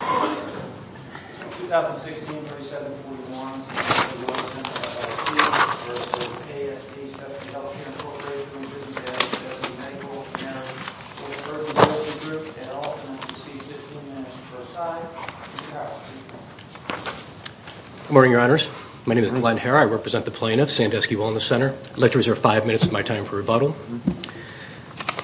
Good morning, Your Honors. My name is Glenn Herr. I represent the plaintiff, Sandusky Wellness Center. I'd like to reserve five minutes of my time for rebuttal.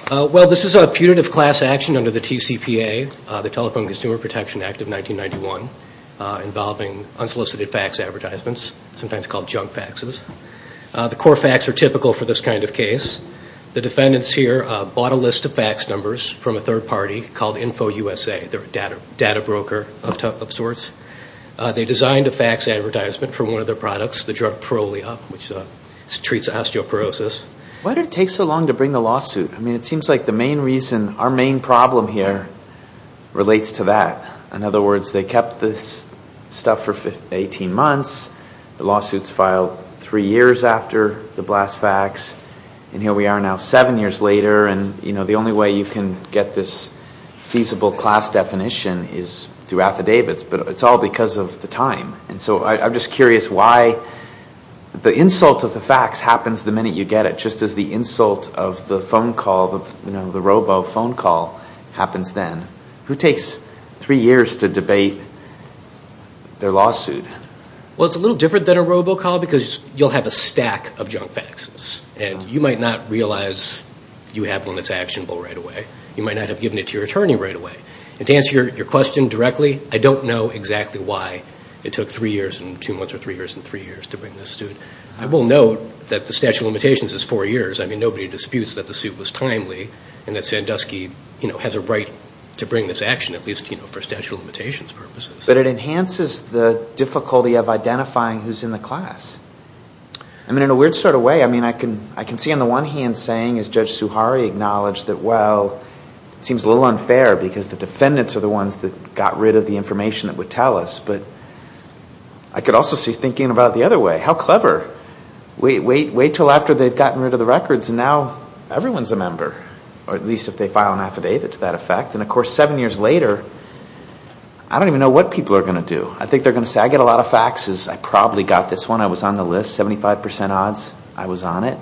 Well, this is a putative class action under the TCPA, the Telephone Consumer Protection Act of 1991, involving unsolicited fax advertisements, sometimes called junk faxes. The core fax are typical for this kind of case. The defendants here bought a list of fax numbers from a third party called InfoUSA, their data broker of sorts. They designed a fax advertisement for one of their products, the drug Prole-Up, which treats osteoporosis. Why did it take so long to bring the lawsuit? I mean, it seems like the main reason, our main problem here relates to that. In other words, they kept this stuff for 18 months. The lawsuits filed three years after the blast fax. And here we are now, seven years later, and the only way you can get this feasible class definition is through affidavits, but it's all because of the time. And so I'm just curious why the insult of the fax happens the minute you get it, just as the insult of the phone call, the robo phone call happens then. Who takes three years to debate their lawsuit? Well, it's a little different than a robo call because you'll have a stack of junk faxes, and you might not realize you have one that's actionable right away. You might not have given it to your attorney right away. And to answer your question directly, I don't know exactly why it took three years and two months or three years and three years to bring this suit. I will note that the statute of limitations is four years. I mean, nobody disputes that the suit was timely and that Sandusky has a right to bring this action, at least for statute of limitations purposes. But it enhances the difficulty of identifying who's in the class. I mean, in a weird sort of way, I can see on the one hand saying, as Judge Suhari acknowledged, that, well, it seems a little unfair because the defendants are the ones that got rid of the information that would tell us. But I could also see thinking about it the other way. How clever. Wait until after they've gotten rid of the records, and now everyone's a member, or at least if they file an affidavit to that effect. And, of course, seven years later, I don't even know what people are going to do. I think they're going to say, I get a lot of faxes. I probably got this one. I was on the list. Seventy-five percent odds I was on it.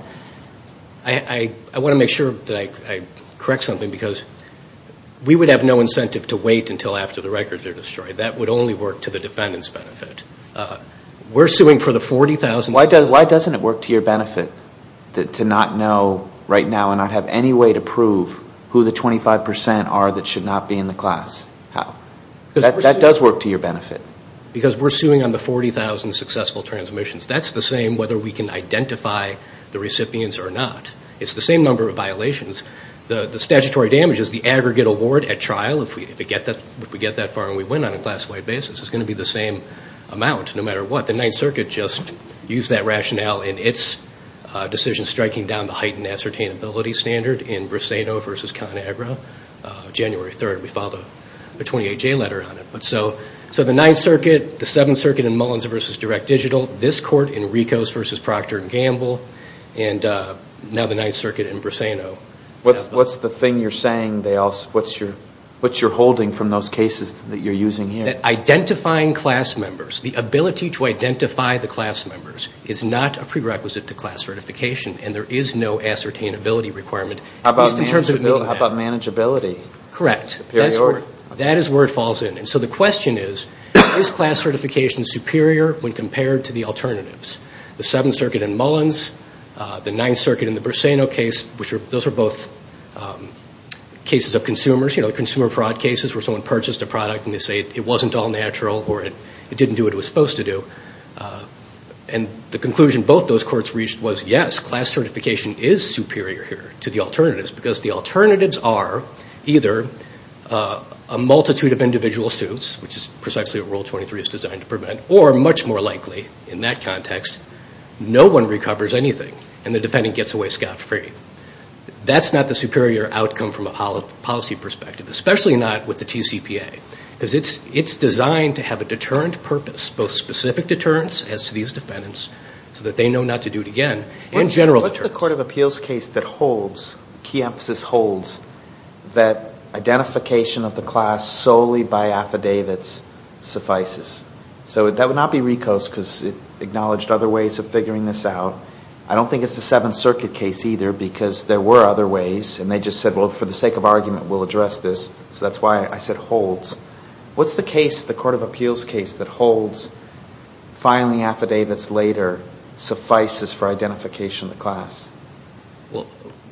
I want to make sure that I correct something because we would have no incentive to wait until after the records are destroyed. That would only work to the defendant's benefit. We're suing for the $40,000. Why doesn't it work to your benefit to not know right now and not have any way to prove who the 25 percent are that should not be in the class? How? That does work to your benefit. Because we're suing on the $40,000 successful transmissions. That's the same whether we can identify the recipients or not. It's the same number of violations. The statutory damage is the aggregate award at trial. If we get that far and we win on a class-wide basis, it's going to be the same amount no matter what. The Ninth Circuit just used that rationale in its decision striking down the heightened ascertainability standard in Briseno v. ConAgra, January 3rd. We filed a 28-J letter on it. So the Ninth Circuit, the Seventh Circuit in Mullins v. Direct Digital, this court in Ricos v. Procter & Gamble, and now the Ninth Circuit in Briseno. What's the thing you're saying, what's your holding from those cases that you're using here? Identifying class members, the ability to identify the class members is not a prerequisite to class certification, and there is no ascertainability requirement. How about manageability? Correct. That is where it falls in. So the question is, is class certification superior when compared to the alternatives? The Seventh Circuit in Mullins, the Ninth Circuit in the Briseno case, those are both cases of consumers, you know, consumer fraud cases where someone purchased a product and they say it wasn't all natural or it didn't do what it was supposed to do. And the conclusion both those courts reached was, yes, class certification is superior here to the alternatives because the alternatives are either a multitude of individual suits, which is precisely what Rule 23 is designed to prevent, or much more likely, in that context, no one recovers anything and the defendant gets away scot-free. That's not the superior outcome from a policy perspective, especially not with the TCPA, because it's designed to have a deterrent purpose, both specific deterrence as to these defendants so that they know not to do it again, and general deterrence. What's the Court of Appeals case that holds, key emphasis holds, that identification of the class solely by affidavits suffices? So that would not be RICO's because it acknowledged other ways of figuring this out. I don't think it's the Seventh Circuit case either because there were other ways, and they just said, well, for the sake of argument, we'll address this. So that's why I said holds. What's the case, the Court of Appeals case, that holds filing affidavits later suffices for identification of the class?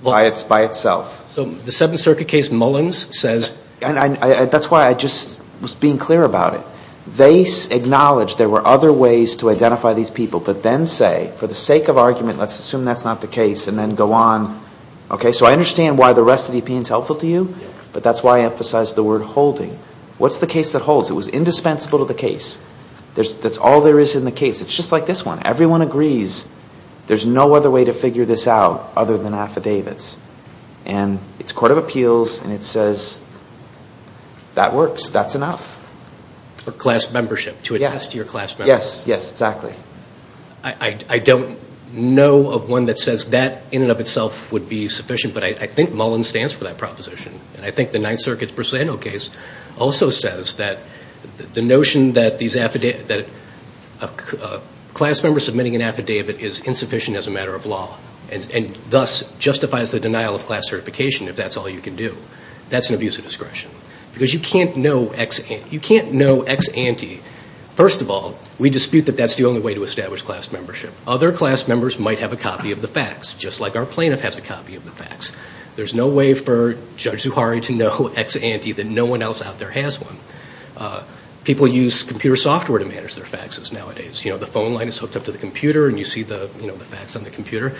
By itself. So the Seventh Circuit case, Mullins, says... That's why I just was being clear about it. They acknowledged there were other ways to identify these people, but then say, for the sake of argument, let's assume that's not the case, and then go on. So I understand why the rest of the opinion is helpful to you, but that's why I emphasized the word holding. What's the case that holds? It was indispensable to the case. That's all there is in the case. It's just like this one. Everyone agrees there's no other way to figure this out other than affidavits. And it's Court of Appeals, and it says, that works. That's enough. For class membership, to attest to your class membership. Yes. Yes, exactly. I don't know of one that says that in and of itself would be sufficient, but I think Mullins stands for that proposition. And I think the Ninth Circuit's procedural case also says that the notion that a class member submitting an affidavit is insufficient as a matter of law, and thus justifies the denial of class certification, if that's all you can do. That's an abuse of discretion. Because you can't know ex ante. First of all, we dispute that that's the only way to establish class membership. Other class members might have a copy of the fax, just like our plaintiff has a copy of the fax. There's no way for Judge Zuhari to know ex ante that no one else out there has one. People use computer software to manage their faxes nowadays. You know, the phone line is hooked up to the computer, and you see the fax on the computer.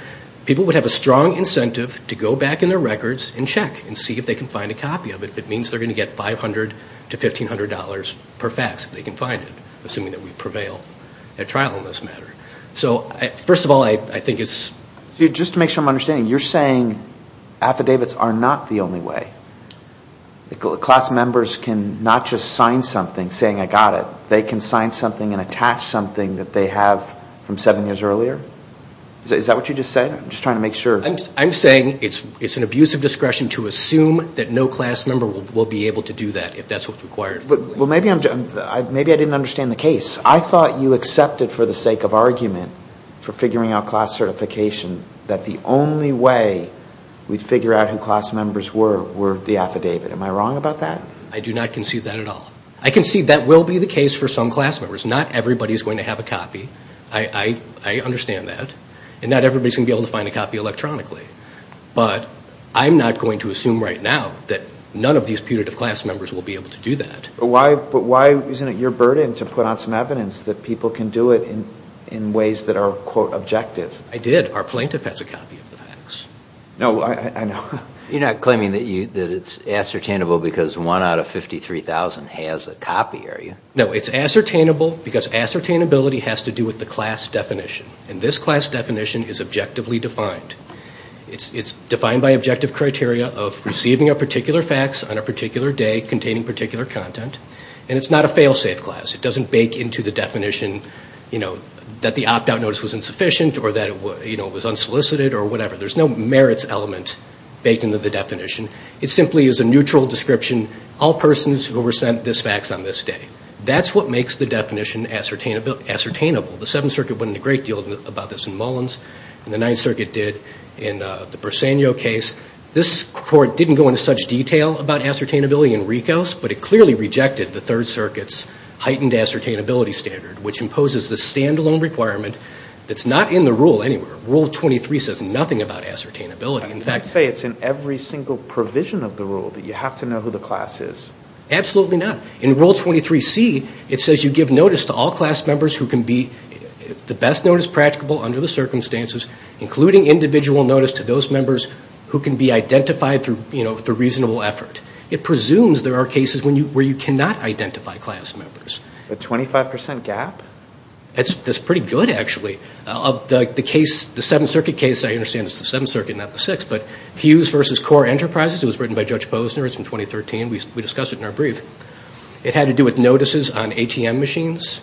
People would have a strong incentive to go back in their records and check and see if they can find a copy of it, if it means they're going to get $500 to $1,500 per fax if they can find it, assuming that we prevail at trial in this matter. So first of all, I think it's... So just to make sure I'm understanding, you're saying affidavits are not the only way. Class members can not just sign something saying, I got it. They can sign something and attach something that they have from seven years earlier? Is that what you just said? I'm just trying to make sure. I'm saying it's an abuse of discretion to assume that no class member will be able to do that, if that's what's required. Well, maybe I didn't understand the case. I thought you accepted for the sake of argument, for figuring out class certification, that the only way we'd figure out who class members were, were the affidavit. Am I wrong about that? I do not concede that at all. I concede that will be the case for some class members. Not everybody is going to have a copy. I understand that. And not everybody is going to be able to find a copy electronically. But I'm not going to assume right now that none of these putative class members will be able to do that. But why isn't it your burden to put on some evidence that people can do it in ways that are, quote, objective? I did. Our plaintiff has a copy of the facts. No, I know. You're not claiming that it's ascertainable because one out of 53,000 has a copy, are you? No, it's ascertainable because ascertainability has to do with the class definition. And this class definition is objectively defined. It's defined by objective criteria of receiving a particular fax on a particular day containing particular content. And it's not a fail-safe class. It doesn't bake into the definition that the opt-out notice was insufficient or that it was unsolicited or whatever. There's no merits element baked into the definition. It simply is a neutral description, all persons who were sent this fax on this day. That's what makes the definition ascertainable. The Seventh Circuit went into a great deal about this in Mullins, and the Ninth Circuit did in the Bersagno case. This Court didn't go into such detail about ascertainability in Ricos, but it clearly rejected the Third Circuit's heightened ascertainability standard, which imposes the standalone requirement that's not in the rule anywhere. Rule 23 says nothing about ascertainability. I would say it's in every single provision of the rule that you have to know who the class is. Absolutely not. In Rule 23C, it says you give notice to all class members who can be the best notice practicable under the circumstances, including individual notice to those members who can be identified through reasonable effort. It presumes there are cases where you cannot identify class members. The 25 percent gap? That's pretty good, actually. The case, the Seventh Circuit case, I understand it's the Seventh Circuit, not the Sixth, but Hughes v. Core Enterprises, it was written by Judge Posner. It's from 2013. We discussed it in our brief. It had to do with notices on ATM machines,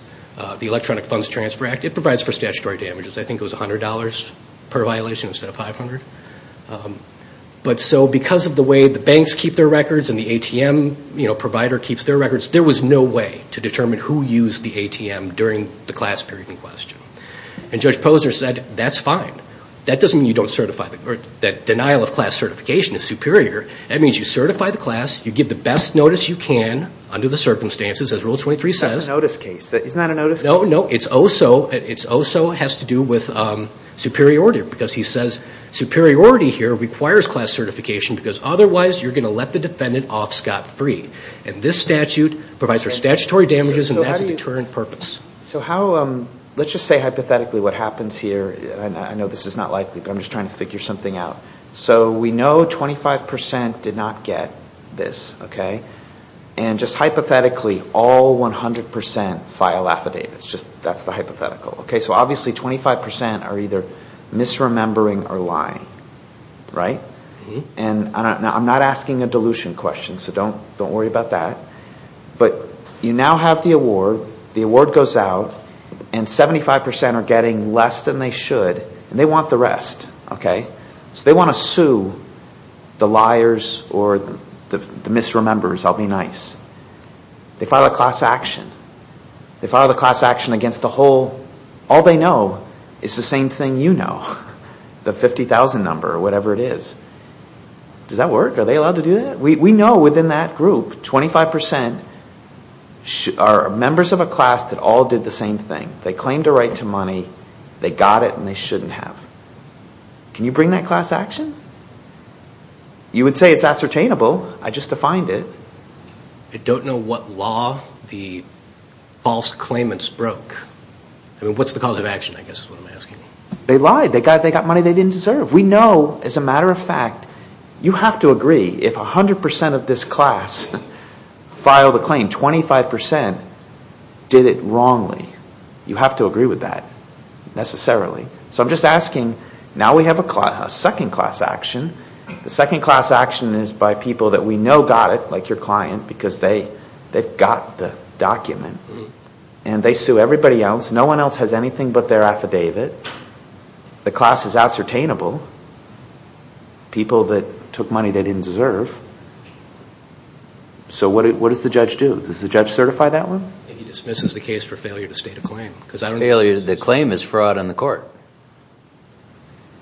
the Electronic Funds Transfer Act. It provides for statutory damages. I think it was $100 per violation instead of $500. But so because of the way the banks keep their records and the ATM provider keeps their records, there was no way to determine who used the ATM during the class period in question. And Judge Posner said, that's fine. That doesn't mean you don't certify, or that denial of class certification is superior. That means you certify the class, you give the best notice you can under the circumstances, as Rule 23 says. That's a notice case. Isn't that a notice case? No, no. It also has to do with superiority because he says superiority here requires class certification because otherwise you're going to let the defendant off scot-free. And this statute provides for statutory damages, and that's a deterrent purpose. So let's just say hypothetically what happens here. I know this is not likely, but I'm just trying to figure something out. So we know 25% did not get this. And just hypothetically, all 100% file affidavits. That's the hypothetical. So obviously 25% are either misremembering or lying. And I'm not asking a dilution question, so don't worry about that. But you now have the award. The award goes out, and 75% are getting less than they should, and they want the rest. So they want to sue the liars or the misremembers. I'll be nice. They file a class action. They file a class action against the whole. All they know is the same thing you know, the 50,000 number or whatever it is. Does that work? Are they allowed to do that? We know within that group, 25% are members of a class that all did the same thing. They claimed a right to money. They got it, and they shouldn't have. Can you bring that class action? You would say it's ascertainable. I just defined it. I don't know what law the false claimants broke. I mean, what's the cause of action, I guess is what I'm asking. They lied. They got money they didn't deserve. We know, as a matter of fact, you have to agree if 100% of this class filed a claim, 25% did it wrongly. You have to agree with that, necessarily. So I'm just asking, now we have a second class action. The second class action is by people that we know got it, like your client, because they got the document. And they sue everybody else. No one else has anything but their affidavit. The class is ascertainable. People that took money they didn't deserve. So what does the judge do? Does the judge certify that one? He dismisses the case for failure to state a claim. Failure to state a claim is fraud on the court.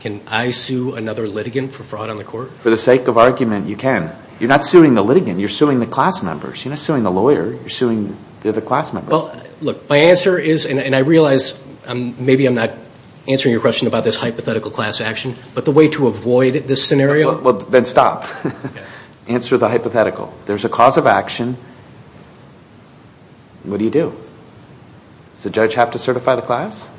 Can I sue another litigant for fraud on the court? For the sake of argument, you can. You're not suing the litigant. You're suing the class members. You're not suing the lawyer. You're suing the other class members. Well, look, my answer is, and I realize maybe I'm not answering your question about this hypothetical class action, but the way to avoid this scenario. Well, then stop. Answer the hypothetical. There's a cause of action. What do you do? Does the judge have to certify the class?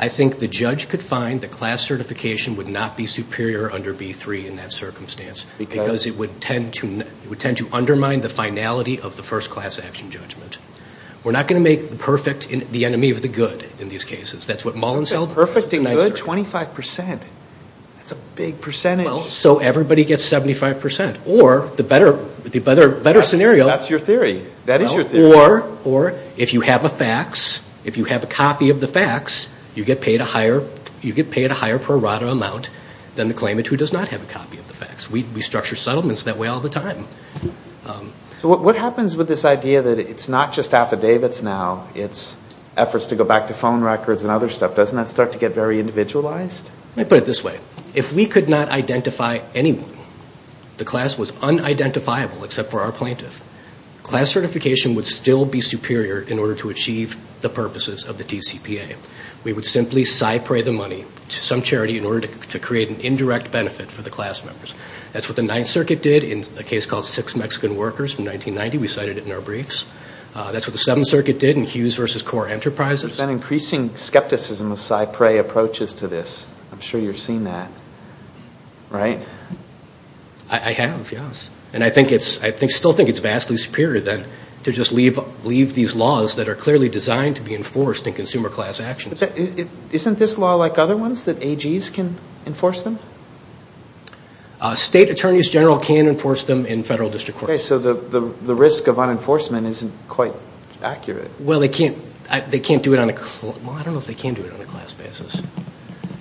I think the judge could find that class certification would not be superior under B3 in that circumstance. Because it would tend to undermine the finality of the first class action judgment. We're not going to make the perfect the enemy of the good in these cases. That's what Mullins held. Perfecting good? 25%. That's a big percentage. So everybody gets 75%. Or the better scenario. That's your theory. That is your theory. Or if you have a fax, if you have a copy of the fax, you get paid a higher pro rata amount than the claimant who does not have a copy of the fax. We structure settlements that way all the time. So what happens with this idea that it's not just affidavits now, it's efforts to go back to phone records and other stuff, doesn't that start to get very individualized? Let me put it this way. If we could not identify anyone, the class was unidentifiable except for our plaintiff, class certification would still be superior in order to achieve the purposes of the TCPA. We would simply cypre the money to some charity in order to create an indirect benefit for the class members. That's what the Ninth Circuit did in a case called Six Mexican Workers from 1990. We cited it in our briefs. That's what the Seventh Circuit did in Hughes v. Core Enterprises. There's been increasing skepticism of cypre approaches to this. I'm sure you've seen that, right? I have, yes. I still think it's vastly superior to just leave these laws that are clearly designed to be enforced in consumer class actions. Isn't this law like other ones, that AGs can enforce them? State attorneys general can enforce them in federal district courts. Okay, so the risk of unenforcement isn't quite accurate. Well, they can't do it on a class basis.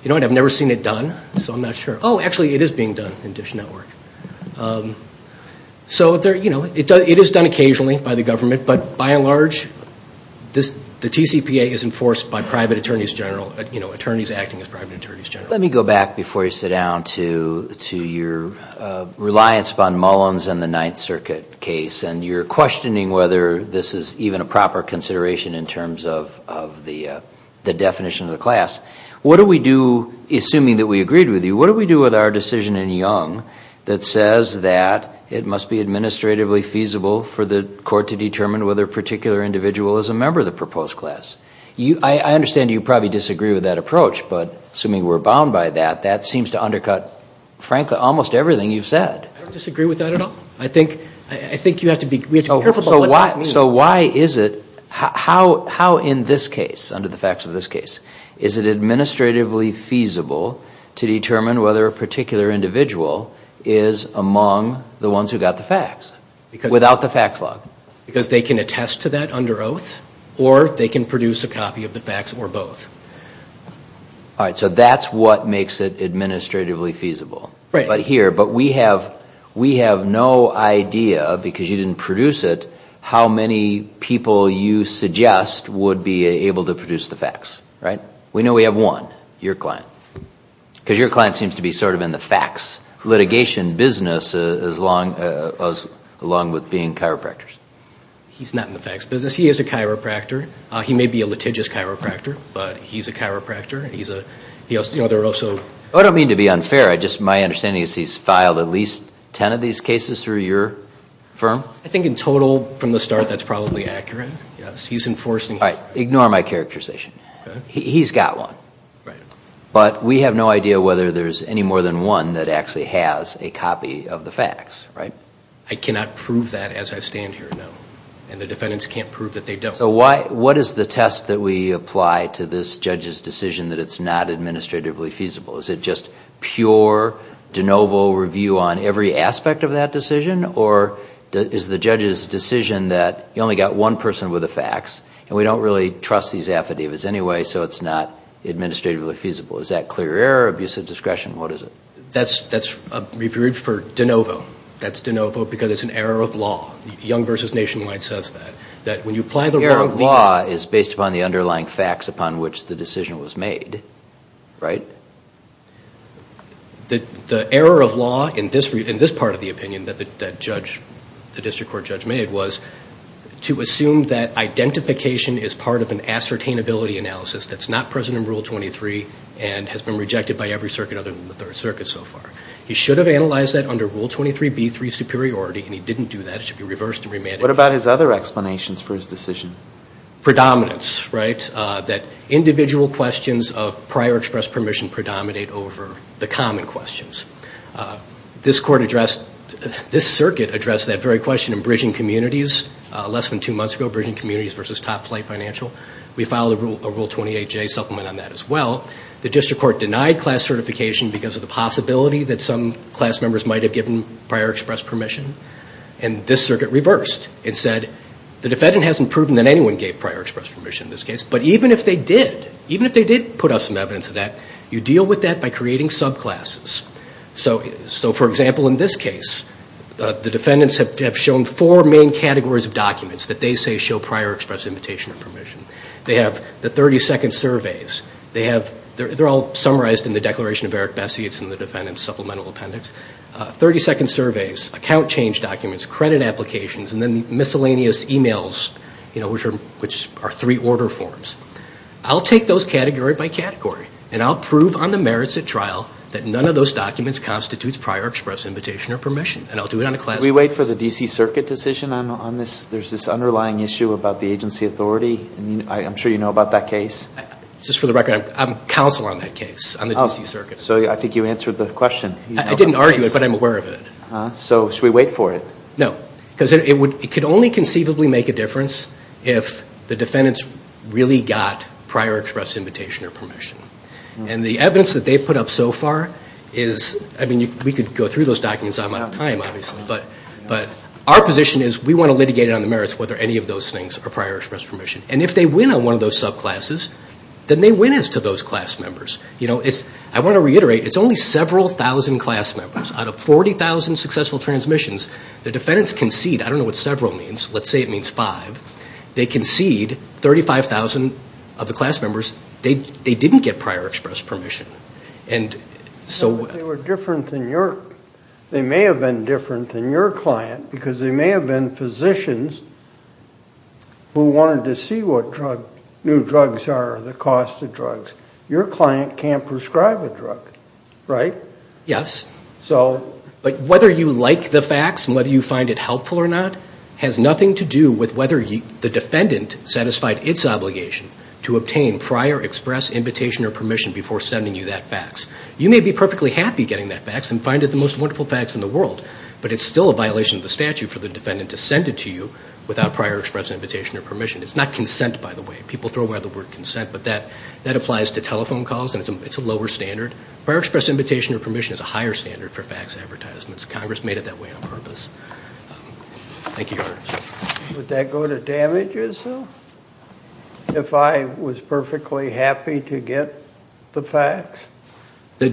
I've never seen it done, so I'm not sure. Oh, actually, it is being done in DISH Network. So it is done occasionally by the government, but by and large, the TCPA is enforced by private attorneys general, attorneys acting as private attorneys general. Let me go back before you sit down to your reliance upon Mullins and the Ninth Circuit case, and your questioning whether this is even a proper consideration in terms of the definition of the class. What do we do, assuming that we agreed with you, what do we do with our decision in Young that says that it must be administratively feasible for the court to determine whether a particular individual is a member of the proposed class? I understand you probably disagree with that approach, but assuming we're bound by that, that seems to undercut, frankly, almost everything you've said. I don't disagree with that at all. I think you have to be careful about what that means. So why is it, how in this case, under the facts of this case, is it administratively feasible to determine whether a particular individual is among the ones who got the facts without the facts log? Because they can attest to that under oath, or they can produce a copy of the facts or both. All right, so that's what makes it administratively feasible. Right. But here, we have no idea, because you didn't produce it, how many people you suggest would be able to produce the facts, right? We know we have one, your client. Because your client seems to be sort of in the facts litigation business, along with being chiropractors. He's not in the facts business. He is a chiropractor. He may be a litigious chiropractor, but he's a chiropractor. I don't mean to be unfair. My understanding is he's filed at least ten of these cases through your firm? I think in total, from the start, that's probably accurate. He's enforcing the facts. Ignore my characterization. He's got one. But we have no idea whether there's any more than one that actually has a copy of the facts, right? I cannot prove that as I stand here, no. And the defendants can't prove that they don't. So what is the test that we apply to this judge's decision that it's not administratively feasible? Is it just pure de novo review on every aspect of that decision? Or is the judge's decision that you only got one person with the facts, and we don't really trust these affidavits anyway, so it's not administratively feasible? Is that clear error or abuse of discretion? What is it? That's a review for de novo. That's de novo because it's an error of law. Young v. Nationwide says that. The error of law is based upon the underlying facts upon which the decision was made, right? The error of law in this part of the opinion that the district court judge made was to assume that identification is part of an ascertainability analysis that's not present in Rule 23 and has been rejected by every circuit other than the Third Circuit so far. He should have analyzed that under Rule 23b, 3, superiority, and he didn't do that. It should be reversed and remanded. What about his other explanations for his decision? Predominance, right? That individual questions of prior express permission predominate over the common questions. This circuit addressed that very question in Bridging Communities less than two months ago, Bridging Communities v. Top Flight Financial. We filed a Rule 28j supplement on that as well. The district court denied class certification because of the possibility that some class members might have given prior express permission, and this circuit reversed and said, the defendant hasn't proven that anyone gave prior express permission in this case, but even if they did, even if they did put up some evidence of that, you deal with that by creating subclasses. So, for example, in this case, the defendants have shown four main categories of documents that they say show prior express invitation or permission. They have the 30-second surveys. They're all summarized in the Declaration of Eric Bessie. It's in the defendant's supplemental appendix. 30-second surveys, account change documents, credit applications, and then the miscellaneous e-mails, which are three order forms. I'll take those category by category, and I'll prove on the merits at trial that none of those documents constitutes prior express invitation or permission, and I'll do it on a class basis. Can we wait for the D.C. Circuit decision on this? There's this underlying issue about the agency authority. I'm sure you know about that case. Just for the record, I'm counsel on that case, on the D.C. Circuit. So I think you answered the question. I didn't argue it, but I'm aware of it. So should we wait for it? No, because it could only conceivably make a difference if the defendants really got prior express invitation or permission, and the evidence that they've put up so far is, I mean, we could go through those documents. I'm out of time, obviously, but our position is we want to litigate it on the merits whether any of those things are prior express permission, and if they win on one of those subclasses, then they win it to those class members. You know, I want to reiterate, it's only several thousand class members. Out of 40,000 successful transmissions, the defendants concede. I don't know what several means. Let's say it means five. They concede 35,000 of the class members. They didn't get prior express permission. They may have been different than your client, because they may have been physicians who wanted to see what new drugs are, the cost of drugs. Your client can't prescribe a drug, right? Yes, but whether you like the facts and whether you find it helpful or not has nothing to do with whether the defendant satisfied its obligation to obtain prior express invitation or permission before sending you that fax. You may be perfectly happy getting that fax and find it the most wonderful fax in the world, but it's still a violation of the statute for the defendant to send it to you without prior express invitation or permission. It's not consent, by the way. People throw away the word consent, but that applies to telephone calls, and it's a lower standard. Prior express invitation or permission is a higher standard for fax advertisements. Congress made it that way on purpose. Thank you, Your Honor. Would that go to damages, though, if I was perfectly happy to get the fax? The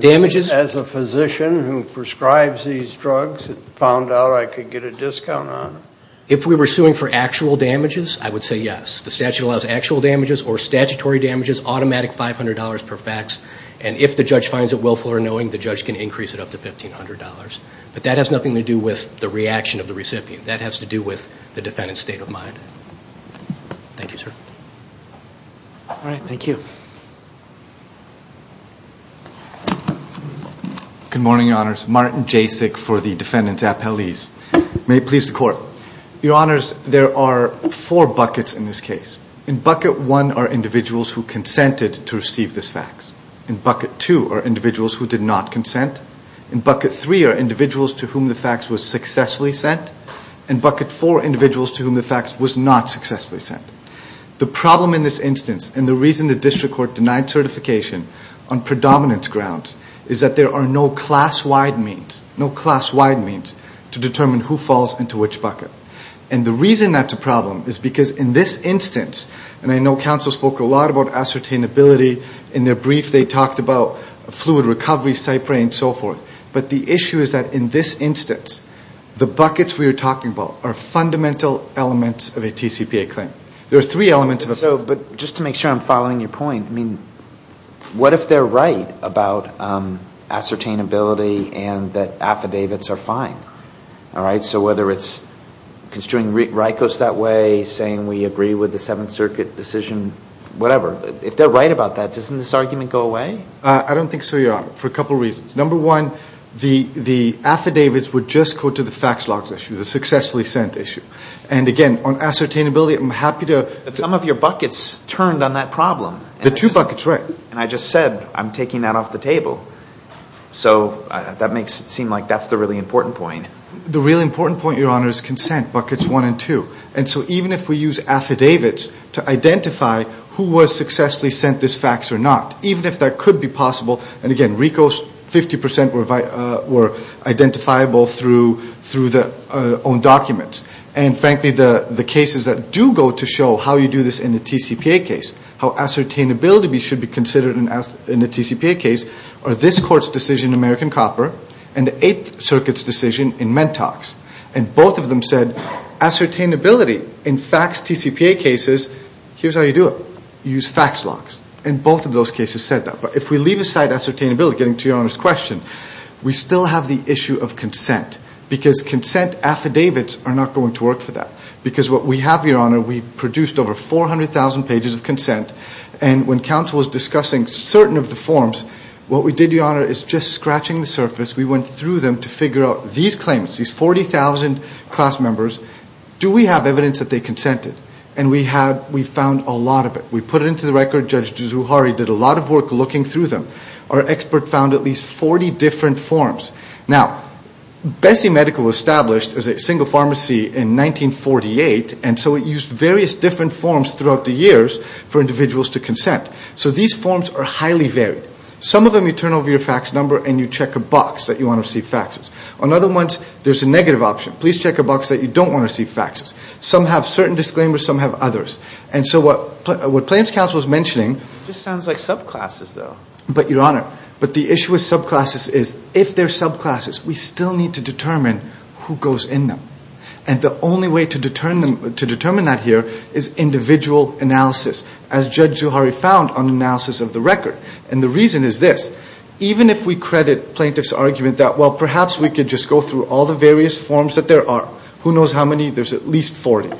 damages? As a physician who prescribes these drugs and found out I could get a discount on it. If we were suing for actual damages, I would say yes. The statute allows actual damages or statutory damages, automatic $500 per fax, and if the judge finds it willful or knowing, the judge can increase it up to $1,500. But that has nothing to do with the reaction of the recipient. That has to do with the defendant's state of mind. Thank you, sir. All right, thank you. Good morning, Your Honors. Martin Jasek for the defendant's appellees. May it please the Court. Your Honors, there are four buckets in this case. In bucket one are individuals who consented to receive this fax. In bucket two are individuals who did not consent. In bucket three are individuals to whom the fax was successfully sent. In bucket four, individuals to whom the fax was not successfully sent. The problem in this instance and the reason the district court denied certification on predominance grounds is that there are no class-wide means, no class-wide means to determine who falls into which bucket. And the reason that's a problem is because in this instance, and I know counsel spoke a lot about ascertainability in their brief. They talked about fluid recovery, Cypre and so forth. But the issue is that in this instance, the buckets we are talking about are fundamental elements of a TCPA claim. There are three elements of a claim. But just to make sure I'm following your point, what if they're right about ascertainability and that affidavits are fine? So whether it's construing RICOs that way, saying we agree with the Seventh Circuit decision, whatever. If they're right about that, doesn't this argument go away? I don't think so, Your Honor, for a couple of reasons. Number one, the affidavits would just go to the fax logs issue, the successfully sent issue. And again, on ascertainability, I'm happy to Some of your buckets turned on that problem. The two buckets, right. And I just said I'm taking that off the table. So that makes it seem like that's the really important point. The really important point, Your Honor, is consent, buckets one and two. And so even if we use affidavits to identify who was successfully sent this fax or not, even if that could be possible, and again, RICOs, 50% were identifiable through the own documents. And frankly, the cases that do go to show how you do this in a TCPA case, how ascertainability should be considered in a TCPA case, are this Court's decision in American Copper and the Eighth Circuit's decision in Mentox. And both of them said ascertainability in fax TCPA cases, here's how you do it. You use fax logs. And both of those cases said that. But if we leave aside ascertainability, getting to Your Honor's question, we still have the issue of consent because consent affidavits are not going to work for that. Because what we have, Your Honor, we produced over 400,000 pages of consent. And when counsel was discussing certain of the forms, what we did, Your Honor, is just scratching the surface. We went through them to figure out these claims, these 40,000 class members. Do we have evidence that they consented? And we found a lot of it. We put it into the record. Judge Juzuhari did a lot of work looking through them. Our expert found at least 40 different forms. Now, Bessie Medical was established as a single pharmacy in 1948, and so it used various different forms throughout the years for individuals to consent. So these forms are highly varied. Some of them you turn over your fax number and you check a box that you want to receive faxes. On other ones, there's a negative option. Please check a box that you don't want to receive faxes. Some have certain disclaimers. Some have others. And so what claims counsel was mentioning – It just sounds like subclasses, though. But, Your Honor, but the issue with subclasses is if they're subclasses, we still need to determine who goes in them. And the only way to determine that here is individual analysis, as Judge Juzuhari found on analysis of the record. And the reason is this. Even if we credit plaintiff's argument that, well, perhaps we could just go through all the various forms that there are. Who knows how many? There's at least 40.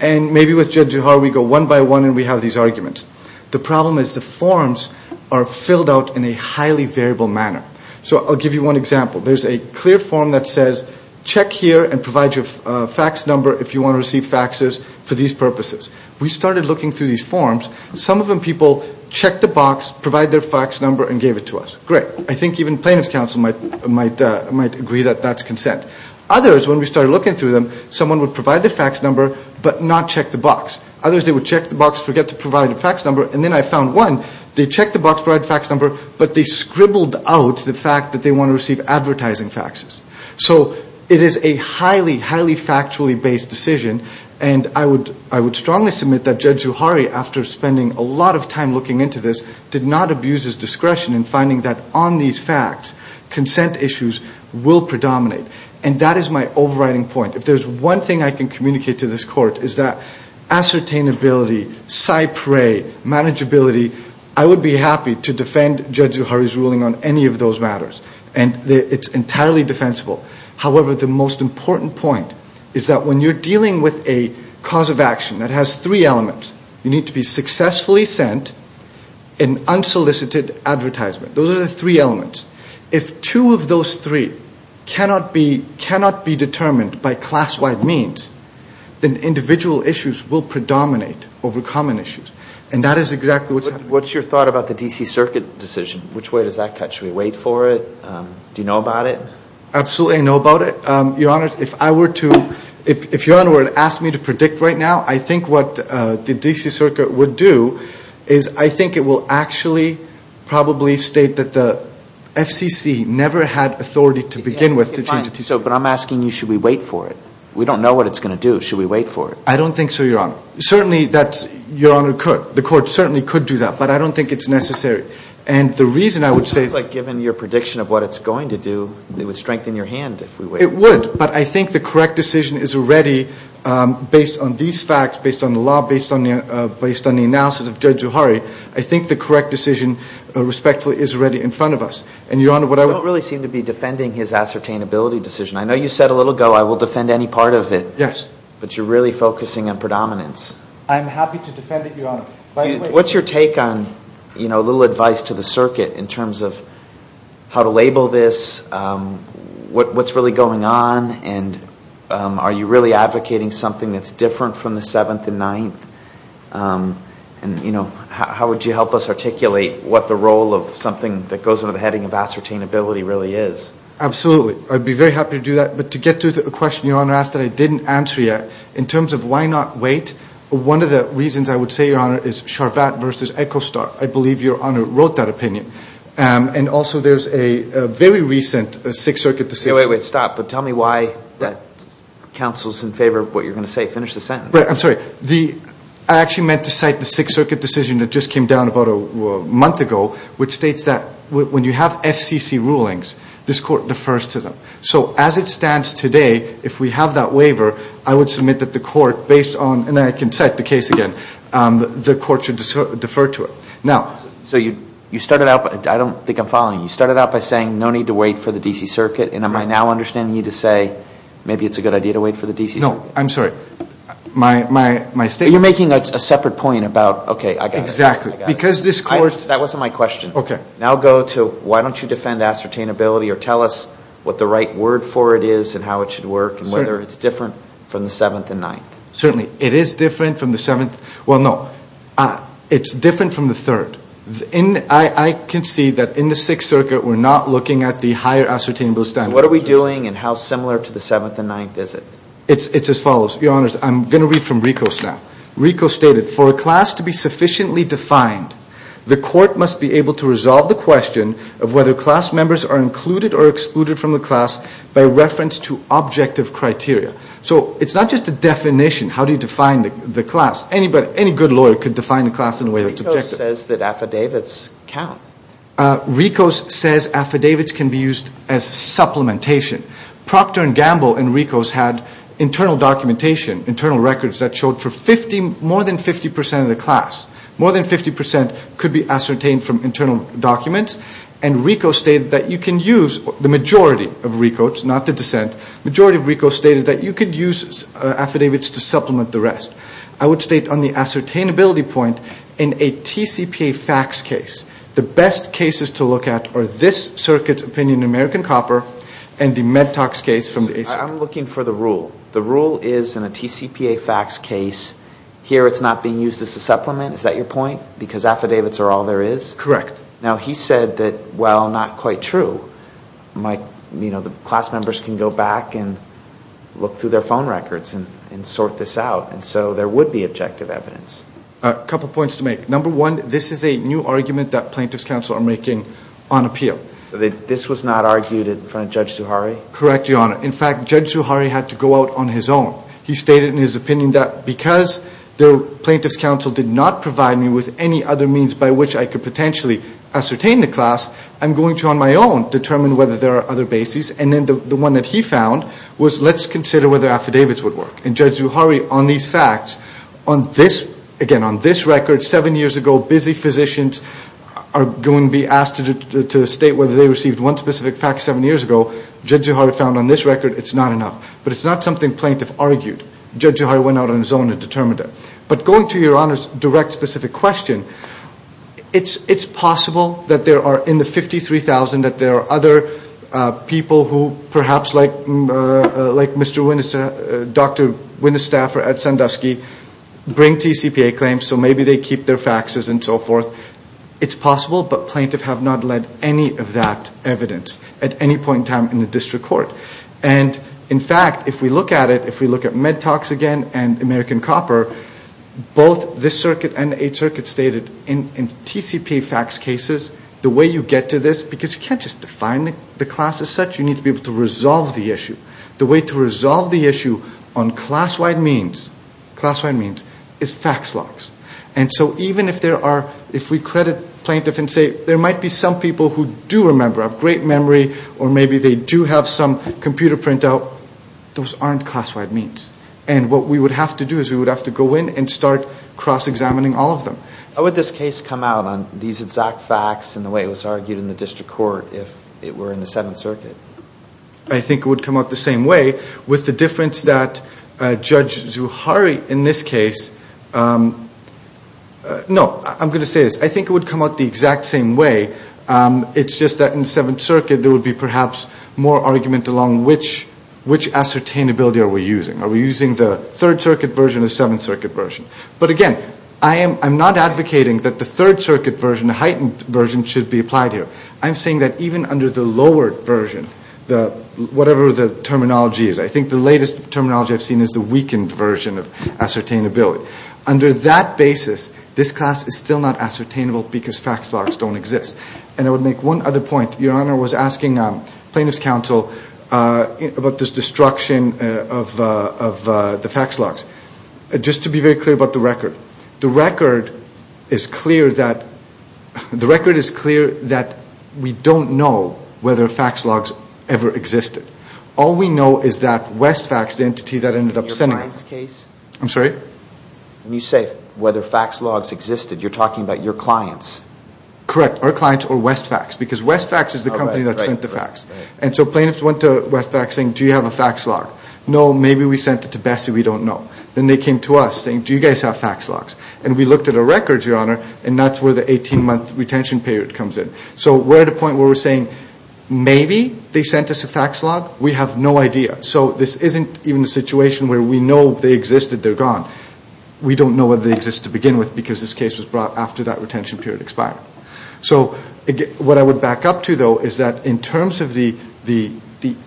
And maybe with Judge Juzuhari we go one by one and we have these arguments. The problem is the forms are filled out in a highly variable manner. So I'll give you one example. There's a clear form that says, check here and provide your fax number if you want to receive faxes for these purposes. We started looking through these forms. Some of them people check the box, provide their fax number, and gave it to us. Great. I think even plaintiff's counsel might agree that that's consent. Others, when we started looking through them, someone would provide their fax number but not check the box. Others, they would check the box, forget to provide a fax number. And then I found one. They checked the box, provided fax number, but they scribbled out the fact that they want to receive advertising faxes. So it is a highly, highly factually based decision. And I would strongly submit that Judge Juzuhari, after spending a lot of time looking into this, did not abuse his discretion in finding that on these facts, consent issues will predominate. And that is my overriding point. If there's one thing I can communicate to this Court, it's that ascertainability, cypre, manageability, I would be happy to defend Judge Juzuhari's ruling on any of those matters. And it's entirely defensible. However, the most important point is that when you're dealing with a cause of action that has three elements, you need to be successfully sent an unsolicited advertisement. Those are the three elements. If two of those three cannot be determined by class-wide means, then individual issues will predominate over common issues. And that is exactly what's happening. What's your thought about the D.C. Circuit decision? Which way does that cut? Should we wait for it? Do you know about it? Absolutely I know about it. Your Honor, if I were to, if Your Honor were to ask me to predict right now, I think what the D.C. Circuit would do is I think it will actually probably state that the FCC never had authority to begin with to change the D.C. Circuit. But I'm asking you, should we wait for it? We don't know what it's going to do. Should we wait for it? I don't think so, Your Honor. Certainly that's, Your Honor, the court certainly could do that. But I don't think it's necessary. And the reason I would say – It sounds like given your prediction of what it's going to do, it would strengthen your hand if we wait. It would. But I think the correct decision is already, based on these facts, based on the law, based on the analysis of Judge Zuhari, I think the correct decision respectfully is already in front of us. And, Your Honor, what I would – You don't really seem to be defending his ascertainability decision. I know you said a little ago I will defend any part of it. Yes. But you're really focusing on predominance. I'm happy to defend it, Your Honor. What's your take on a little advice to the circuit in terms of how to label this, what's really going on, and are you really advocating something that's different from the Seventh and Ninth? And how would you help us articulate what the role of something that goes under the heading of ascertainability really is? Absolutely. I'd be very happy to do that. But to get to the question Your Honor asked that I didn't answer yet, in terms of why not wait, one of the reasons I would say, Your Honor, is Charvat versus Echostar. I believe Your Honor wrote that opinion. And also there's a very recent Sixth Circuit decision. Wait, wait, stop. But tell me why that counsel's in favor of what you're going to say. Finish the sentence. I'm sorry. I actually meant to cite the Sixth Circuit decision that just came down about a month ago, which states that when you have FCC rulings, this court defers to them. So as it stands today, if we have that waiver, I would submit that the court, based on, and I can cite the case again, the court should defer to it. So you started out, I don't think I'm following, you started out by saying no need to wait for the D.C. Circuit, and am I now understanding you to say maybe it's a good idea to wait for the D.C. Circuit? No. I'm sorry. You're making a separate point about, okay, I got it. Exactly. That wasn't my question. Okay. Now go to why don't you defend ascertainability or tell us what the right word for it is and how it should work and whether it's different from the Seventh and Ninth. Certainly. It is different from the Seventh. Well, no. It's different from the Third. I can see that in the Sixth Circuit we're not looking at the higher ascertainability standard. So what are we doing and how similar to the Seventh and Ninth is it? It's as follows. Your Honors, I'm going to read from Ricos now. The Court must be able to resolve the question of whether class members are included or excluded from the class by reference to objective criteria. So it's not just a definition. How do you define the class? Any good lawyer could define the class in a way that's objective. Ricos says that affidavits count. Ricos says affidavits can be used as supplementation. Procter & Gamble and Ricos had internal documentation, internal records, that showed more than 50% of the class, more than 50% could be ascertained from internal documents, and Ricos stated that you can use, the majority of Ricos, not the dissent, the majority of Ricos stated that you could use affidavits to supplement the rest. I would state on the ascertainability point, in a TCPA facts case, the best cases to look at are this Circuit's opinion in American Copper and the Medtox case from the ACIP. I'm looking for the rule. The rule is, in a TCPA facts case, here it's not being used as a supplement. Is that your point? Because affidavits are all there is? Correct. Now, he said that, well, not quite true. Class members can go back and look through their phone records and sort this out, and so there would be objective evidence. A couple points to make. Number one, this is a new argument that plaintiffs' counsel are making on appeal. This was not argued in front of Judge Zuhari? Correct, Your Honor. In fact, Judge Zuhari had to go out on his own. He stated in his opinion that, because the plaintiffs' counsel did not provide me with any other means by which I could potentially ascertain the class, I'm going to, on my own, determine whether there are other bases. And then the one that he found was, let's consider whether affidavits would work. And Judge Zuhari, on these facts, on this, again, on this record, seven years ago busy physicians are going to be asked to state whether they received one specific fact seven years ago. Judge Zuhari found on this record it's not enough. But it's not something plaintiff argued. Judge Zuhari went out on his own and determined it. But going to Your Honor's direct specific question, it's possible that there are, in the 53,000, that there are other people who perhaps like Dr. Winestaff or Ed Sandusky bring TCPA claims so maybe they keep their faxes and so forth. It's possible, but plaintiffs have not led any of that evidence at any point in time in the district court. And, in fact, if we look at it, if we look at Medtox again and American Copper, both this circuit and the Eighth Circuit stated in TCPA fax cases, the way you get to this, because you can't just define the class as such, you need to be able to resolve the issue. The way to resolve the issue on class-wide means is fax logs. And so even if there are, if we credit plaintiff and say, there might be some people who do remember, have great memory, or maybe they do have some computer printout, those aren't class-wide means. And what we would have to do is we would have to go in and start cross-examining all of them. How would this case come out on these exact fax and the way it was argued in the district court if it were in the Seventh Circuit? I think it would come out the same way, with the difference that Judge Zuhari in this case, no, I'm going to say this. I think it would come out the exact same way, it's just that in the Seventh Circuit there would be perhaps more argument along which ascertainability are we using. Are we using the Third Circuit version or the Seventh Circuit version? But again, I'm not advocating that the Third Circuit version, the heightened version, should be applied here. I'm saying that even under the lowered version, whatever the terminology is, I think the latest terminology I've seen is the weakened version of ascertainability. Under that basis, this class is still not ascertainable because fax logs don't exist. And I would make one other point. Your Honor was asking plaintiff's counsel about this destruction of the fax logs. Just to be very clear about the record. The record is clear that we don't know whether fax logs ever existed. All we know is that Westfax, the entity that ended up sending them. I'm sorry? When you say whether fax logs existed, you're talking about your clients. Correct, our clients or Westfax. Because Westfax is the company that sent the fax. And so plaintiffs went to Westfax saying, do you have a fax log? No, maybe we sent it to Bessie, we don't know. Then they came to us saying, do you guys have fax logs? And we looked at our records, Your Honor, and that's where the 18-month retention period comes in. So we're at a point where we're saying, maybe they sent us a fax log, we have no idea. So this isn't even a situation where we know they existed, they're gone. We don't know whether they existed to begin with because this case was brought after that retention period expired. So what I would back up to, though, is that in terms of the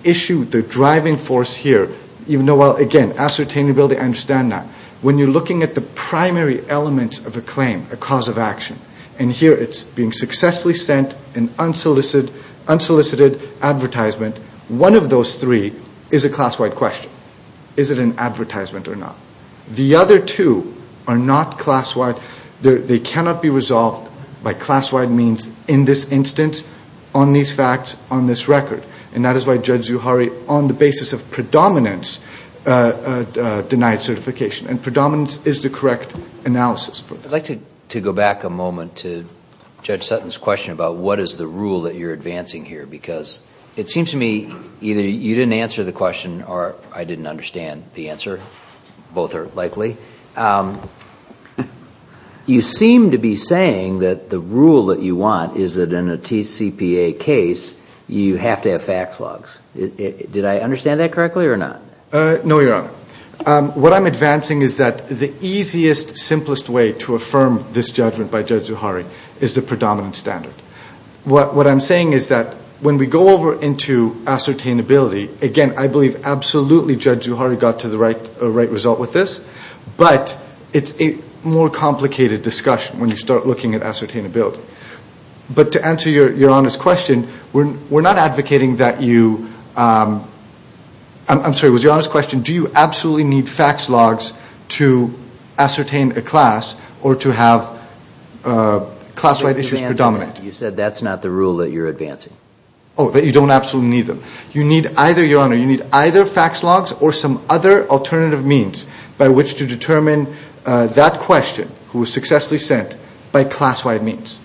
issue, the driving force here, again, ascertainability, I understand that. When you're looking at the primary elements of a claim, a cause of action, and here it's being successfully sent, an unsolicited advertisement, one of those three is a class-wide question. Is it an advertisement or not? The other two are not class-wide. They cannot be resolved by class-wide means in this instance, on these facts, on this record. And that is why Judge Zuhari, on the basis of predominance, denied certification. And predominance is the correct analysis for that. I'd like to go back a moment to Judge Sutton's question about what is the rule that you're advancing here because it seems to me either you didn't answer the question or I didn't understand the answer. Both are likely. You seem to be saying that the rule that you want is that in a TCPA case you have to have facts logs. Did I understand that correctly or not? No, Your Honor. What I'm advancing is that the easiest, simplest way to affirm this judgment by Judge Zuhari is the predominant standard. What I'm saying is that when we go over into ascertainability, again, I believe absolutely Judge Zuhari got to the right result with this, but it's a more complicated discussion when you start looking at ascertainability. But to answer Your Honor's question, we're not advocating that you – I'm sorry, was Your Honor's question, do you absolutely need facts logs to ascertain a class or to have class-wide issues predominant? You said that's not the rule that you're advancing. Oh, that you don't absolutely need them. You need either, Your Honor, you need either facts logs or some other alternative means by which to determine that question who was successfully sent by class-wide means.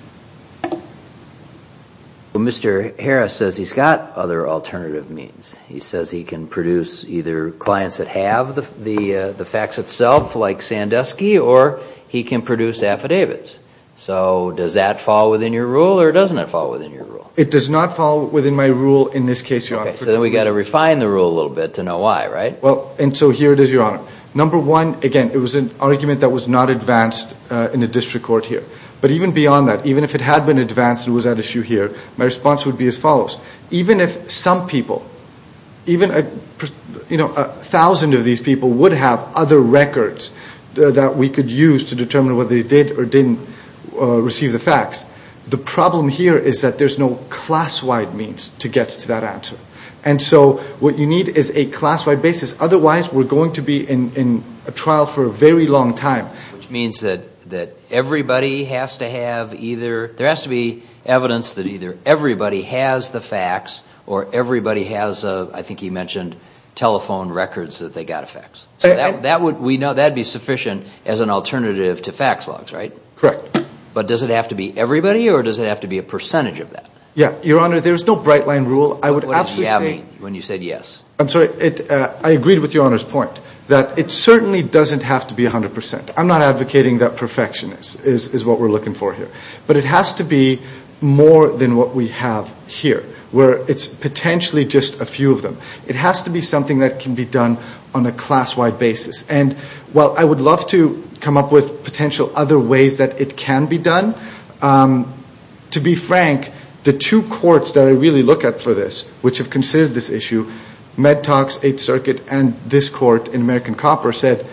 Well, Mr. Harris says he's got other alternative means. He says he can produce either clients that have the facts itself, like Sandusky, or he can produce affidavits. So does that fall within your rule or doesn't it fall within your rule? It does not fall within my rule in this case, Your Honor. Okay, so then we've got to refine the rule a little bit to know why, right? Well, and so here it is, Your Honor. Number one, again, it was an argument that was not advanced in the district court here. But even beyond that, even if it had been advanced and was at issue here, my response would be as follows. Even if some people, even a thousand of these people would have other records that we could use to determine whether they did or didn't receive the facts, the problem here is that there's no class-wide means to get to that answer. And so what you need is a class-wide basis. Otherwise, we're going to be in a trial for a very long time. Which means that everybody has to have either – there has to be evidence that either everybody has the facts or everybody has, I think you mentioned, telephone records that they got a fax. So that would be sufficient as an alternative to fax logs, right? Correct. But does it have to be everybody or does it have to be a percentage of that? Yeah, Your Honor, there's no bright-line rule. What does you have mean when you said yes? I'm sorry, I agreed with Your Honor's point that it certainly doesn't have to be 100%. I'm not advocating that perfection is what we're looking for here. But it has to be more than what we have here, where it's potentially just a few of them. It has to be something that can be done on a class-wide basis. And while I would love to come up with potential other ways that it can be done, to be frank, the two courts that I really look at for this, which have considered this issue, Medtox, Eighth Circuit, and this court in American Copper, said,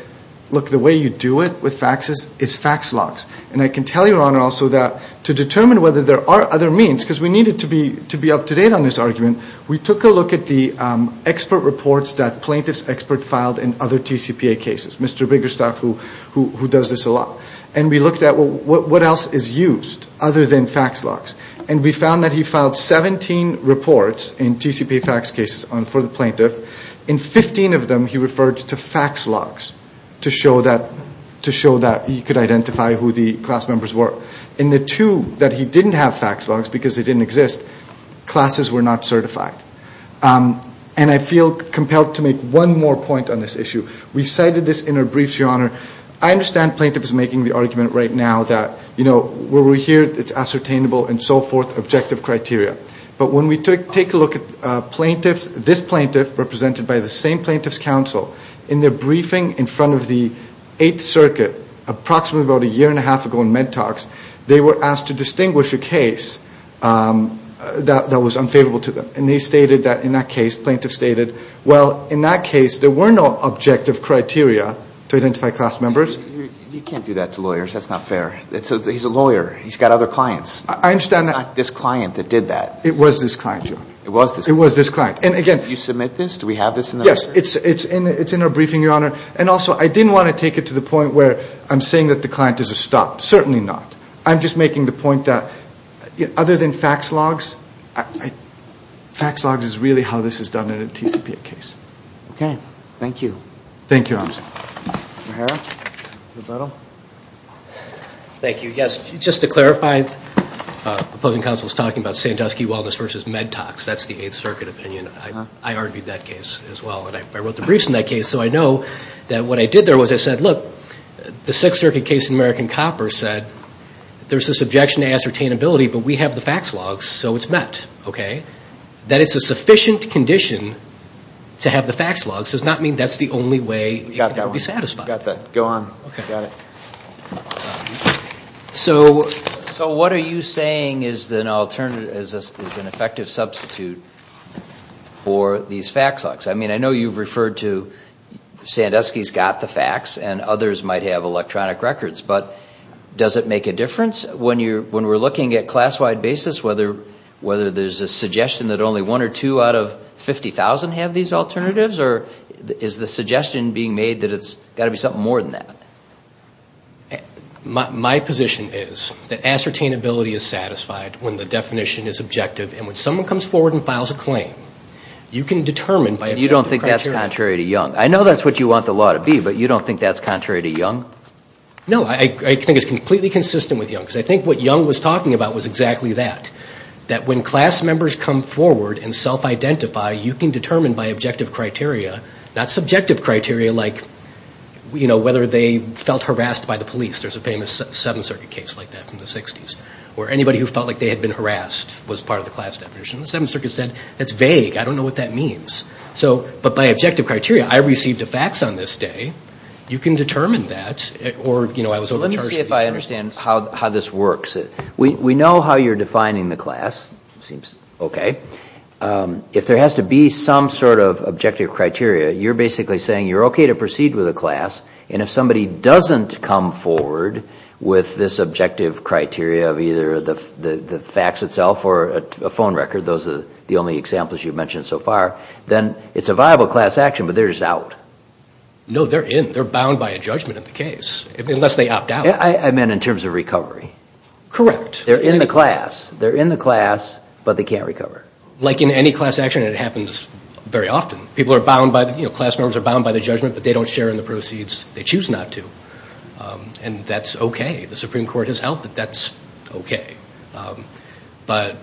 look, the way you do it with faxes is fax logs. And I can tell you, Your Honor, also that to determine whether there are other means, because we needed to be up-to-date on this argument, we took a look at the expert reports that plaintiffs' experts filed in other TCPA cases, Mr. Biggerstaff, who does this a lot. And we looked at what else is used other than fax logs. And we found that he filed 17 reports in TCPA fax cases for the plaintiff. In 15 of them, he referred to fax logs to show that he could identify who the class members were. In the two that he didn't have fax logs because they didn't exist, classes were not certified. And I feel compelled to make one more point on this issue. We cited this in our briefs, Your Honor. I understand plaintiffs making the argument right now that, you know, where we're here, it's ascertainable and so forth, objective criteria. But when we take a look at plaintiffs, this plaintiff, represented by the same plaintiffs' counsel, in their briefing in front of the Eighth Circuit approximately about a year and a half ago in MedTalks, they were asked to distinguish a case that was unfavorable to them. And they stated that in that case, plaintiffs stated, well, in that case, there were no objective criteria to identify class members. You can't do that to lawyers. That's not fair. He's a lawyer. He's got other clients. I understand that. It's not this client that did that. It was this client, Your Honor. It was this client. It was this client. And again. Do you submit this? Do we have this in the record? Yes. It's in our briefing, Your Honor. And also, I didn't want to take it to the point where I'm saying that the client is a stop. Certainly not. I'm just making the point that other than fax logs, fax logs is really how this is done in a TCPA case. Okay. Thank you. Thank you, Your Honor. Mr. O'Hara. Thank you. Yes, just to clarify, the opposing counsel was talking about Sandusky Wellness versus MedTOX. That's the Eighth Circuit opinion. I argued that case as well. And I wrote the briefs in that case. So I know that what I did there was I said, look, the Sixth Circuit case in American Copper said, there's this objection to ascertainability, but we have the fax logs, so it's met. Okay. That it's a sufficient condition to have the fax logs does not mean that's the only way. You've got to be satisfied. You've got that. Go on. Okay. Got it. So what are you saying is an effective substitute for these fax logs? I mean, I know you've referred to Sandusky's got the fax and others might have electronic records, but does it make a difference when we're looking at class-wide basis, whether there's a suggestion that only one or two out of 50,000 have these alternatives, or is the suggestion being made that it's got to be something more than that? My position is that ascertainability is satisfied when the definition is objective, and when someone comes forward and files a claim, you can determine by objective criteria. You don't think that's contrary to Young? I know that's what you want the law to be, but you don't think that's contrary to Young? No, I think it's completely consistent with Young, because I think what Young was talking about was exactly that, that when class members come forward and self-identify, you can determine by objective criteria, not subjective criteria like, you know, whether they felt harassed by the police. There's a famous Seventh Circuit case like that from the 60s, where anybody who felt like they had been harassed was part of the class definition. The Seventh Circuit said, that's vague. I don't know what that means. But by objective criteria, I received a fax on this day. You can determine that, or, you know, I was overcharged. Let me see if I understand how this works. We know how you're defining the class. It seems okay. If there has to be some sort of objective criteria, you're basically saying you're okay to proceed with a class, and if somebody doesn't come forward with this objective criteria of either the fax itself or a phone record, those are the only examples you've mentioned so far, then it's a viable class action, but they're just out. No, they're in. They're bound by a judgment in the case, unless they opt out. I meant in terms of recovery. Correct. They're in the class. They're in the class, but they can't recover. Like in any class action, it happens very often. People are bound by the, you know, class members are bound by the judgment, but they don't share in the proceeds they choose not to. And that's okay. The Supreme Court has held that that's okay. But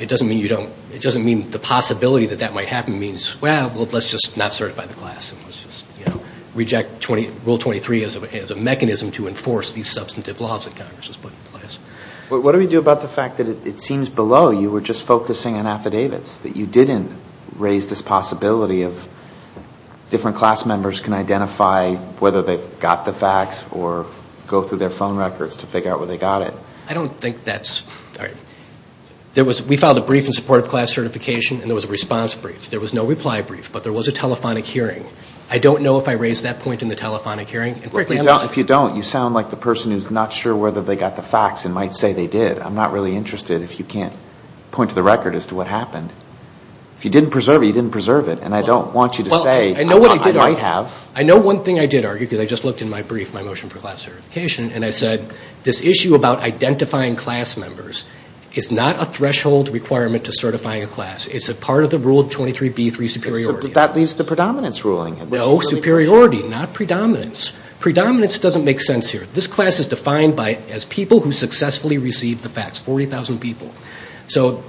it doesn't mean you don't, it doesn't mean the possibility that that might happen means, well, let's just not certify the class. And let's just, you know, reject Rule 23 as a mechanism to enforce these substantive laws that Congress has put in place. What do we do about the fact that it seems below you were just focusing on affidavits, that you didn't raise this possibility of different class members can identify whether they've got the fax or go through their phone records to figure out where they got it? I don't think that's right. We filed a brief in support of class certification, and there was a response brief. There was no reply brief, but there was a telephonic hearing. I don't know if I raised that point in the telephonic hearing. And frankly, I'm not sure. Well, if you don't, you sound like the person who's not sure whether they got the fax and might say they did. I'm not really interested if you can't point to the record as to what happened. If you didn't preserve it, you didn't preserve it. And I don't want you to say I might have. Well, I know what I did argue. I know one thing I did argue because I just looked in my brief, my motion for class certification, It's a part of the rule 23B, three superiority. But that leaves the predominance ruling. No, superiority, not predominance. Predominance doesn't make sense here. This class is defined as people who successfully received the fax, 40,000 people. So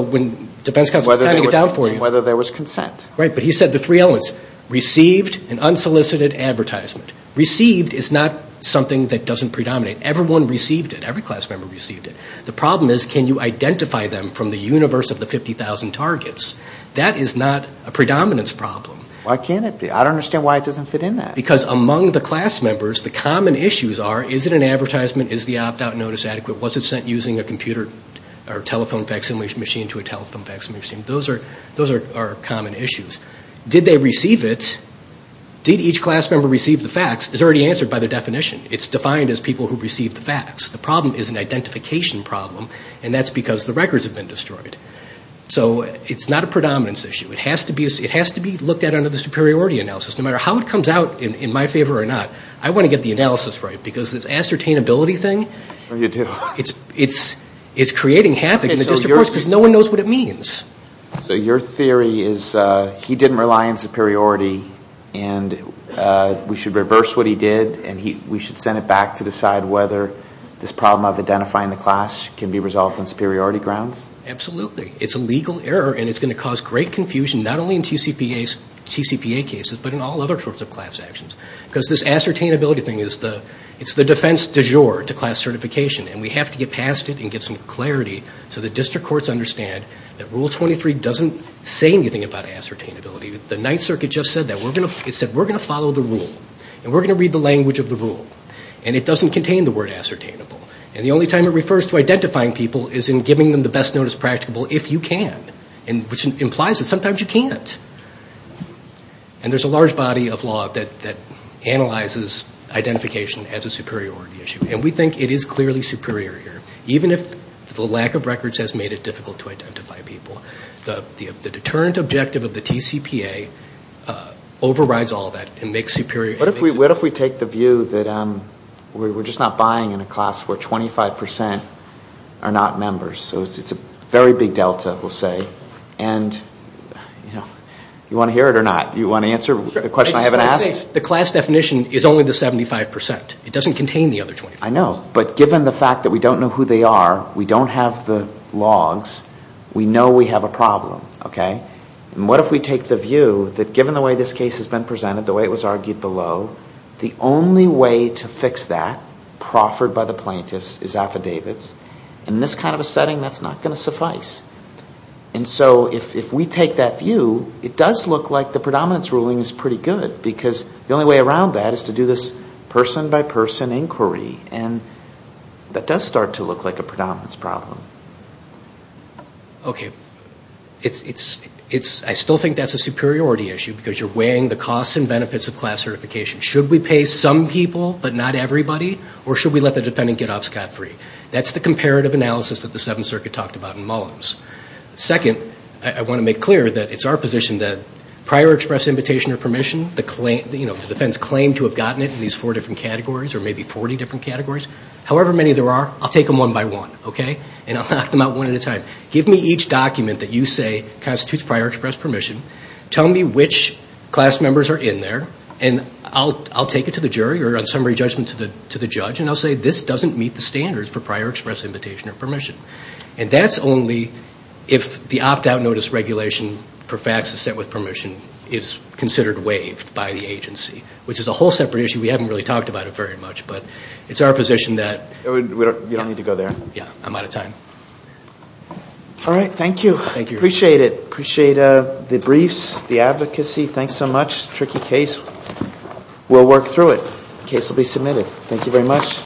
when defense counsel was counting it down for you. Whether there was consent. Right, but he said the three elements, received and unsolicited advertisement. Received is not something that doesn't predominate. Everyone received it. Every class member received it. The problem is can you identify them from the universe of the 50,000 targets? That is not a predominance problem. Why can't it be? I don't understand why it doesn't fit in that. Because among the class members, the common issues are is it an advertisement? Is the opt-out notice adequate? Was it sent using a computer or telephone fax machine to a telephone fax machine? Those are common issues. Did they receive it? Did each class member receive the fax? It's already answered by the definition. It's defined as people who received the fax. The problem is an identification problem. And that's because the records have been destroyed. So it's not a predominance issue. It has to be looked at under the superiority analysis. No matter how it comes out in my favor or not, I want to get the analysis right. Because this ascertainability thing, it's creating havoc in the district courts because no one knows what it means. So your theory is he didn't rely on superiority and we should reverse what he did and we should send it back to decide whether this problem of identifying the class can be resolved on superiority grounds? Absolutely. It's a legal error and it's going to cause great confusion not only in TCPA cases but in all other sorts of class actions. Because this ascertainability thing is the defense du jour to class certification. And we have to get past it and get some clarity so the district courts understand that Rule 23 doesn't say anything about ascertainability. The Ninth Circuit just said that. It said we're going to follow the rule. And we're going to read the language of the rule. And it doesn't contain the word ascertainable. And the only time it refers to identifying people is in giving them the best notice practicable if you can. Which implies that sometimes you can't. And there's a large body of law that analyzes identification as a superiority issue. And we think it is clearly superior here. Even if the lack of records has made it difficult to identify people. The deterrent objective of the TCPA overrides all that. What if we take the view that we're just not buying in a class where 25% are not members? So it's a very big delta, we'll say. And you want to hear it or not? You want to answer the question I haven't asked? The class definition is only the 75%. It doesn't contain the other 25%. I know. But given the fact that we don't know who they are, we don't have the logs, we know we have a problem, okay? And what if we take the view that given the way this case has been presented, the way it was argued below, the only way to fix that, proffered by the plaintiffs, is affidavits? In this kind of a setting, that's not going to suffice. And so if we take that view, it does look like the predominance ruling is pretty good. Because the only way around that is to do this person-by-person inquiry. And that does start to look like a predominance problem. Okay. I still think that's a superiority issue because you're weighing the costs and benefits of class certification. Should we pay some people but not everybody? Or should we let the defendant get off scot-free? That's the comparative analysis that the Seventh Circuit talked about in Mullins. Second, I want to make clear that it's our position that prior express invitation or permission, the defense claimed to have gotten it in these four different categories or maybe 40 different categories. However many there are, I'll take them one by one. And I'll knock them out one at a time. Give me each document that you say constitutes prior express permission. Tell me which class members are in there. And I'll take it to the jury or on summary judgment to the judge. And I'll say this doesn't meet the standards for prior express invitation or permission. And that's only if the opt-out notice regulation for faxes set with permission is considered waived by the agency, which is a whole separate issue. We haven't really talked about it very much, but it's our position that. You don't need to go there. I'm out of time. All right. Thank you. Appreciate it. Appreciate the briefs, the advocacy. Thanks so much. Tricky case. We'll work through it. Case will be submitted. Thank you very much.